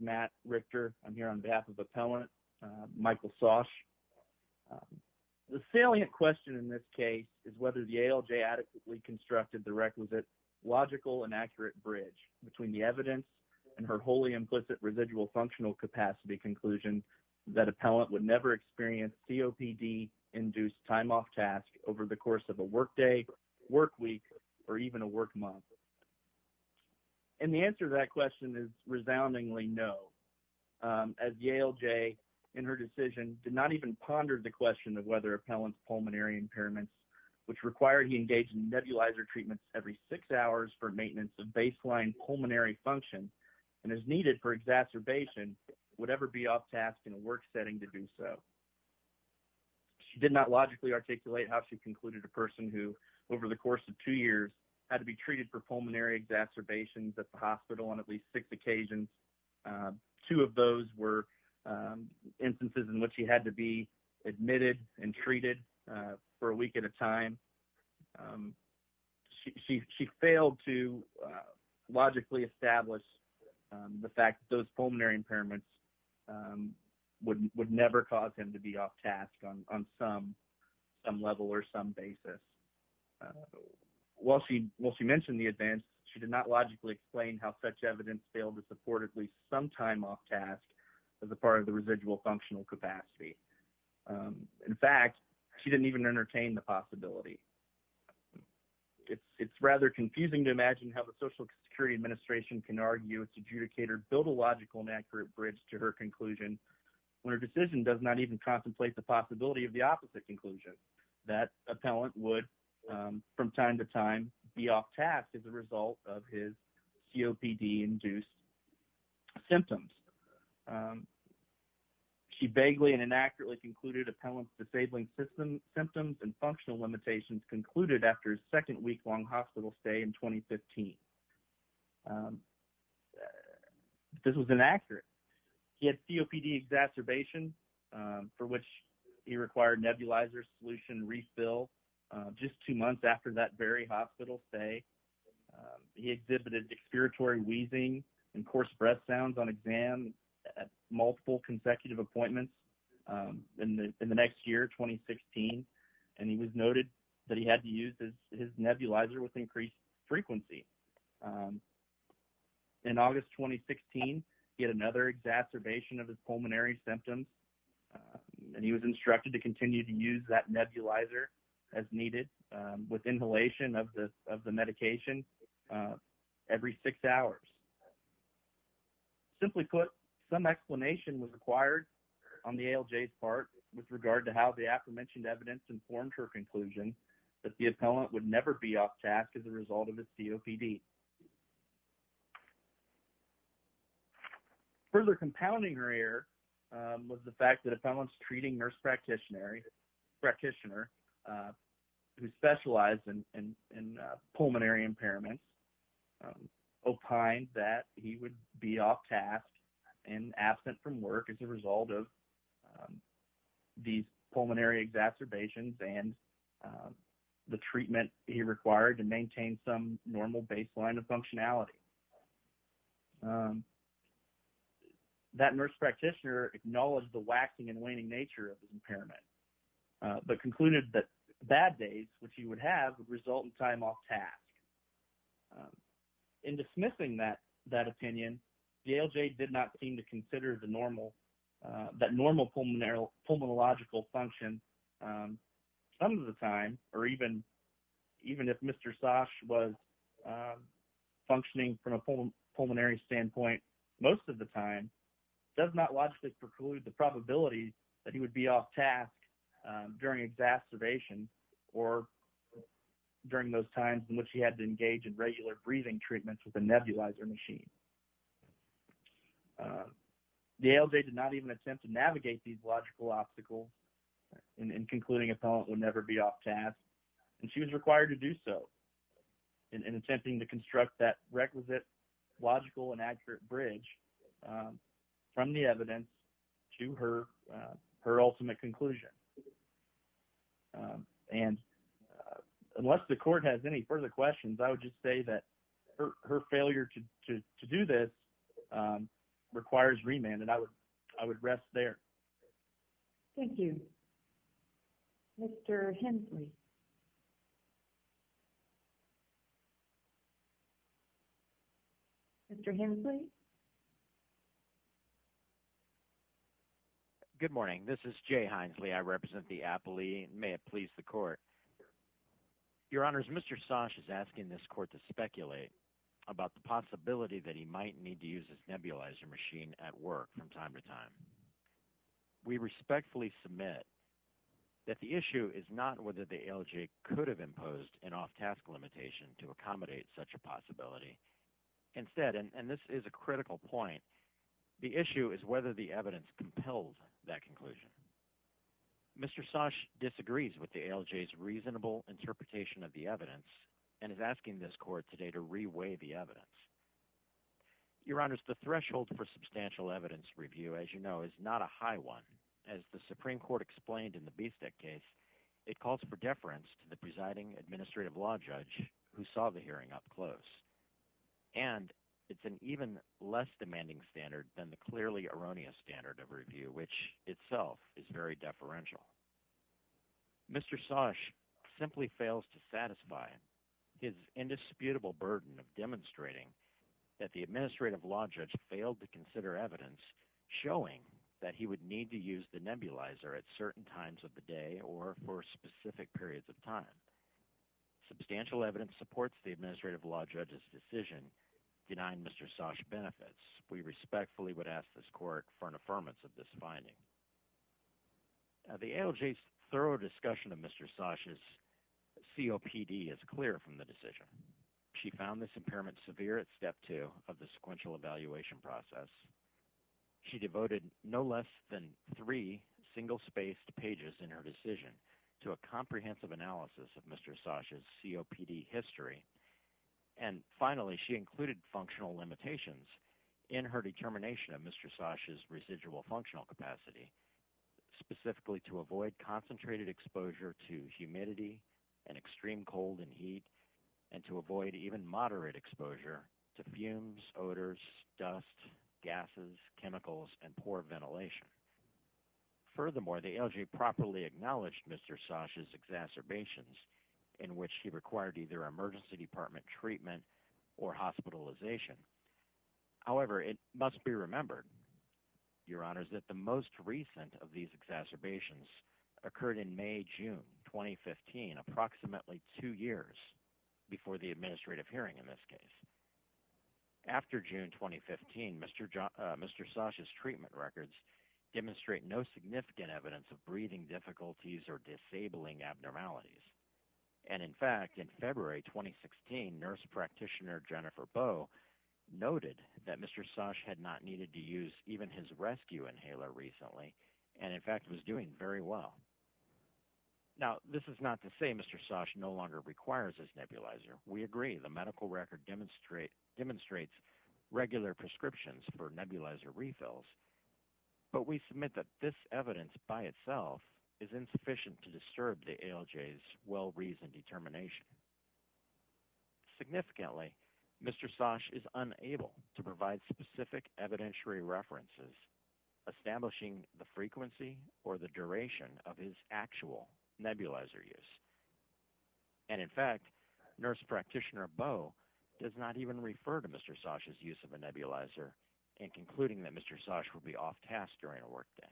Matt Richter The salient question in this case is whether the ALJ adequately constructed the requisite logical and accurate bridge between the evidence and her wholly implicit residual functional capacity conclusion that appellant would never experience COPD-induced time off task over the course of a work day, work week, or even a work month. And the answer to that question is resoundingly no, as the ALJ in her decision did not even ponder the question of whether appellant's pulmonary impairments, which required he engage in nebulizer treatments every six hours for maintenance of baseline pulmonary function and is needed for exacerbation, would ever be off task in a work setting to do so. She did not logically articulate how she concluded a person who, over the course of two years, had to be treated for pulmonary exacerbations at the hospital on at least six occasions. Two of those were instances in which she had to be admitted and treated for a week at a time. She failed to logically establish the fact that those pulmonary impairments would never cause him to be off task on some level or some basis. While she mentioned the advance, she did not logically explain how such evidence failed to support at least some time off task as a part of the residual functional capacity. In fact, she didn't even entertain the possibility. It's rather confusing to imagine how the Social Security Administration can argue its adjudicator built a logical and accurate bridge to her conclusion when her decision does not even contemplate the possibility of the opposite conclusion, that appellant would, from time to time, be off task as a result of his COPD-induced symptoms. She vaguely and inaccurately concluded appellant's disabling symptoms and functional limitations concluded after his second week-long hospital stay in 2015. This was inaccurate. He had COPD exacerbation, for which he required nebulizer solution refill just two months after that very hospital stay. He exhibited expiratory wheezing and coarse breath sounds on exam at multiple consecutive appointments in the next year, 2016, and he was noted that he had to use his nebulizer with increased frequency. In August 2016, he had another exacerbation of his pulmonary symptoms, and he was instructed to continue to use that nebulizer as needed with inhalation of the medication every six hours. Simply put, some explanation was required on the ALJ's part with regard to how the aforementioned evidence informed her conclusion that the appellant would never be off task as a result of his COPD. Further compounding her error was the fact that appellant's treating nurse practitioner, who specialized in pulmonary impairments, opined that he would be off task and absent from work as a result of these pulmonary exacerbations and the treatment he required to maintain some normal baseline of functionality. That nurse practitioner acknowledged the waxing and waning nature of his impairment, but concluded that bad days, which he would have, would result in time off task. In dismissing that opinion, the ALJ did not seem to consider that normal pulmonological function some of the time, or even if Mr. Sash was functioning from a pulmonary standpoint most of the time, does not logically preclude the probability that he would be off task during exacerbation or during those times in which he had to engage in regular breathing treatments with a nebulizer machine. The ALJ did not even attempt to navigate these logical obstacles in concluding appellant would never be off task, and she was required to do so in attempting to construct that requisite logical and accurate bridge from the evidence to her ultimate conclusion. Unless the court has any further questions, I would just say that her failure to do this requires remand, and I would rest there. Thank you. Mr. Hensley? Mr. Hensley? Good morning. This is Jay Hensley. I represent the appellee. May it please the court. Your honors, Mr. Sash is asking this court to speculate about the possibility that he might need to use his nebulizer machine at work from time to time. We respectfully submit that the issue is not whether the ALJ could have imposed an off task limitation to accommodate such a possibility. Instead, and this is a critical point, the issue is whether the evidence compelled that Mr. Sash disagrees with the ALJ's reasonable interpretation of the evidence and is asking this court today to re-weigh the evidence. Your honors, the threshold for substantial evidence review, as you know, is not a high one. As the Supreme Court explained in the Bistek case, it calls for deference to the presiding administrative law judge who saw the hearing up close, and it's an even less demanding standard than the clearly erroneous standard of review, which itself is very deferential. Mr. Sash simply fails to satisfy his indisputable burden of demonstrating that the administrative law judge failed to consider evidence showing that he would need to use the nebulizer at certain times of the day or for specific periods of time. Substantial evidence supports the administrative law judge's decision denying Mr. Sash benefits. We respectfully would ask this court for an affirmance of this finding. The ALJ's thorough discussion of Mr. Sash's COPD is clear from the decision. She found this impairment severe at step two of the sequential evaluation process. She devoted no less than three single-spaced pages in her decision to a comprehensive analysis of Mr. Sash's COPD history. And finally, she included functional limitations in her determination of Mr. Sash's residual functional capacity, specifically to avoid concentrated exposure to humidity and extreme cold and heat, and to avoid even moderate exposure to fumes, odors, dust, gases, chemicals, and poor ventilation. Furthermore, the ALJ properly acknowledged Mr. Sash's exacerbations in which he required either emergency department treatment or hospitalization. However, it must be remembered, Your Honors, that the most recent of these exacerbations occurred in May, June 2015, approximately two years before the administrative hearing in this case. After June 2015, Mr. Sash's treatment records demonstrate no significant evidence of breathing difficulties or disabling abnormalities. And in fact, in February 2016, nurse practitioner Jennifer Bow noted that Mr. Sash had not needed to use even his rescue inhaler recently and, in fact, was doing very well. Now, this is not to say Mr. Sash no longer requires his nebulizer. We agree. The medical record demonstrates regular prescriptions for nebulizer refills. But we submit that this evidence by itself is insufficient to disturb the ALJ's well-reasoned determination. Significantly, Mr. Sash is unable to provide specific evidentiary references establishing the frequency or the duration of his actual nebulizer use. And in fact, nurse practitioner Bow does not even refer to Mr. Sash's use of a nebulizer in concluding that Mr. Sash would be off task during a work day.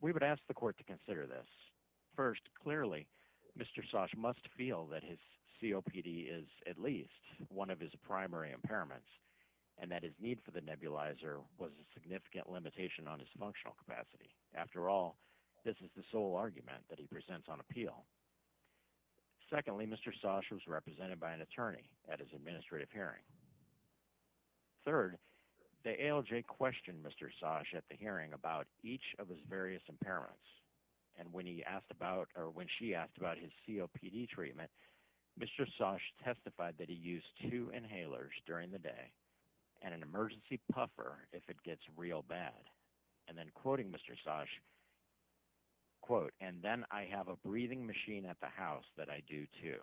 We would ask the court to consider this. First, clearly, Mr. Sash must feel that his COPD is at least one of his primary impairments and that his need for the nebulizer was a significant limitation on his functional capacity. After all, this is the sole argument that he presents on appeal. Secondly, Mr. Sash was represented by an attorney at his administrative hearing. Third, the ALJ questioned Mr. Sash at the hearing about each of his various impairments. And when he asked about or when she asked about his COPD treatment, Mr. Sash testified that he used two inhalers during the day and an emergency puffer if it gets real bad. And then quoting Mr. Sash, quote, and then I have a breathing machine at the house that I do too.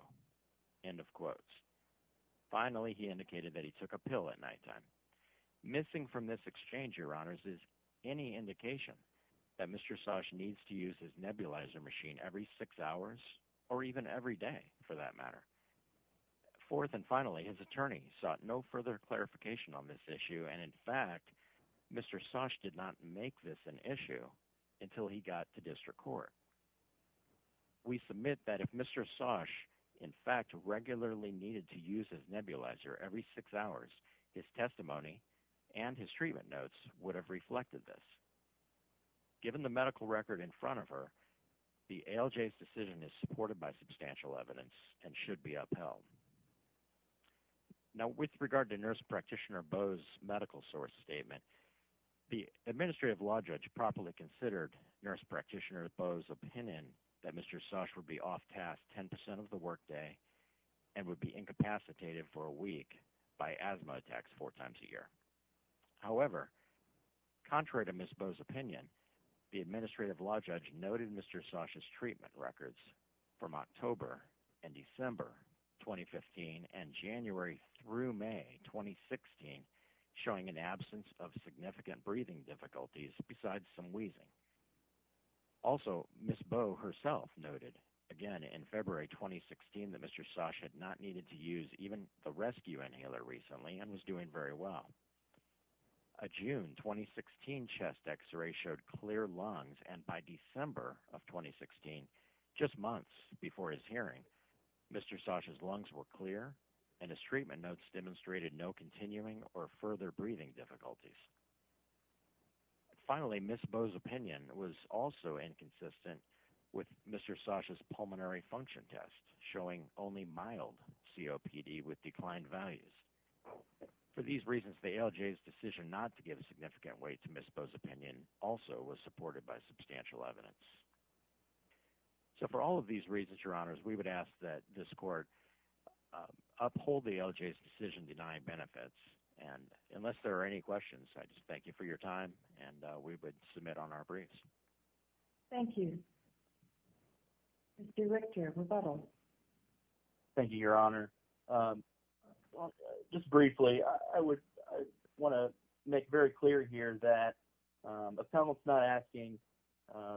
End of quotes. Finally, he indicated that he took a pill at night time. Missing from this exchange, your honors, is any indication that Mr. Sash needs to use his nebulizer machine every six hours or even every day for that matter. Fourth and finally, his attorney sought no further clarification on this issue and in fact, Mr. Sash did not make this an issue until he got to district court. We submit that if Mr. Sash in fact regularly needed to use his nebulizer every six hours, his testimony and his treatment notes would have reflected this. Given the medical record in front of her, the ALJ's decision is supported by substantial evidence and should be upheld. Now with regard to Nurse Practitioner Bowe's medical source statement, the Administrative Law Judge properly considered Nurse Practitioner Bowe's opinion that Mr. Sash would be off task 10% of the workday and would be incapacitated for a week by asthma attacks four times a year. However, contrary to Miss Bowe's opinion, the Administrative Law Judge noted Mr. Sash's treatment records from October and December 2015 and January through May 2016 showing an absence of significant breathing difficulties besides some wheezing. Also, Miss Bowe herself noted again in February 2016 that Mr. Sash had not needed to use even the rescue inhaler recently and was doing very well. A June 2016 chest x-ray showed clear lungs and by December of 2016, just months before his hearing, Mr. Sash's lungs were clear and his treatment notes demonstrated no continuing or further breathing difficulties. Finally, Miss Bowe's opinion was also inconsistent with Mr. Sash's pulmonary function test showing only mild COPD with declined values. For these reasons, the LJ's decision not to give a significant weight to Miss Bowe's opinion also was supported by substantial evidence. So for all of these reasons, Your Honors, we would ask that this Court uphold the LJ's decision denying benefits and unless there are any questions, I just thank you for your time and we would submit on our briefs. Thank you. Mr. Richter, rebuttal. Thank you, Your Honor. Just briefly, I want to make very clear here that appellants not asking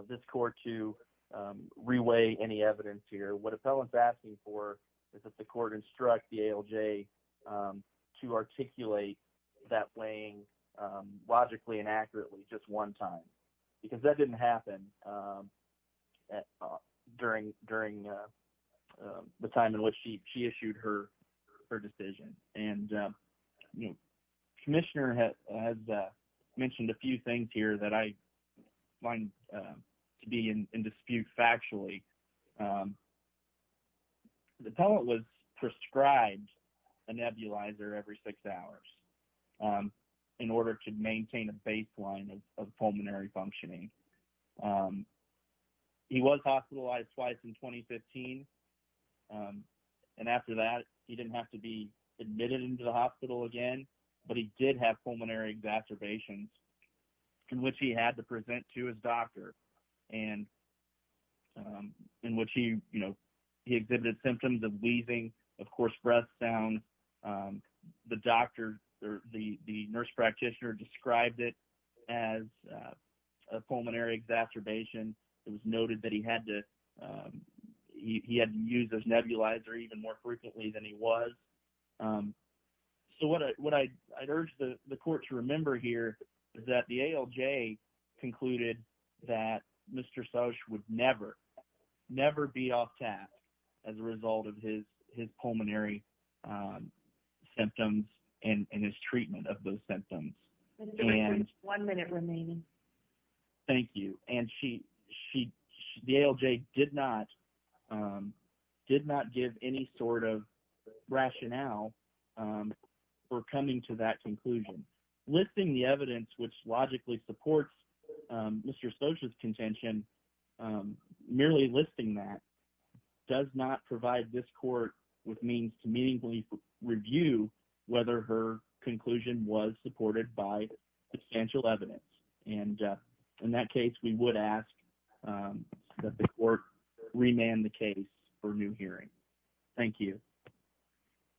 this Court to re-weigh any evidence here. What appellants asking for is that the Court instruct the ALJ to articulate that weighing logically and accurately just one time because that didn't happen during the time in which she issued her decision. Commissioner has mentioned a few things here that I find to be in dispute factually. The appellant was prescribed a nebulizer every six hours in order to maintain a baseline of pulmonary functioning. He was hospitalized twice in 2015 and after that, he didn't have to be admitted into the hospital again, but he did have pulmonary exacerbations in which he had to present to his doctor and in which he exhibited symptoms of wheezing, of course, breath sounds. The doctor or the nurse practitioner described it as a pulmonary exacerbation. It was noted that he had to use this nebulizer even more frequently than he was. So, what I urge the Court to remember here is that the ALJ concluded that Mr. Sosch would never be off tap as a result of his pulmonary symptoms and his treatment of those symptoms. One minute remaining. Thank you. The ALJ did not give any sort of rationale for coming to that conclusion. Listing the evidence which logically supports Mr. Sosch's contention, merely listing that, does not provide this Court with means to meaningfully review whether her conclusion was supported by substantial evidence. In that case, we would ask that the Court remand the case for new hearing. Thank you.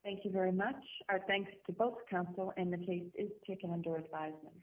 Thank you very much. Our thanks to both counsel and the case is taken under advisement.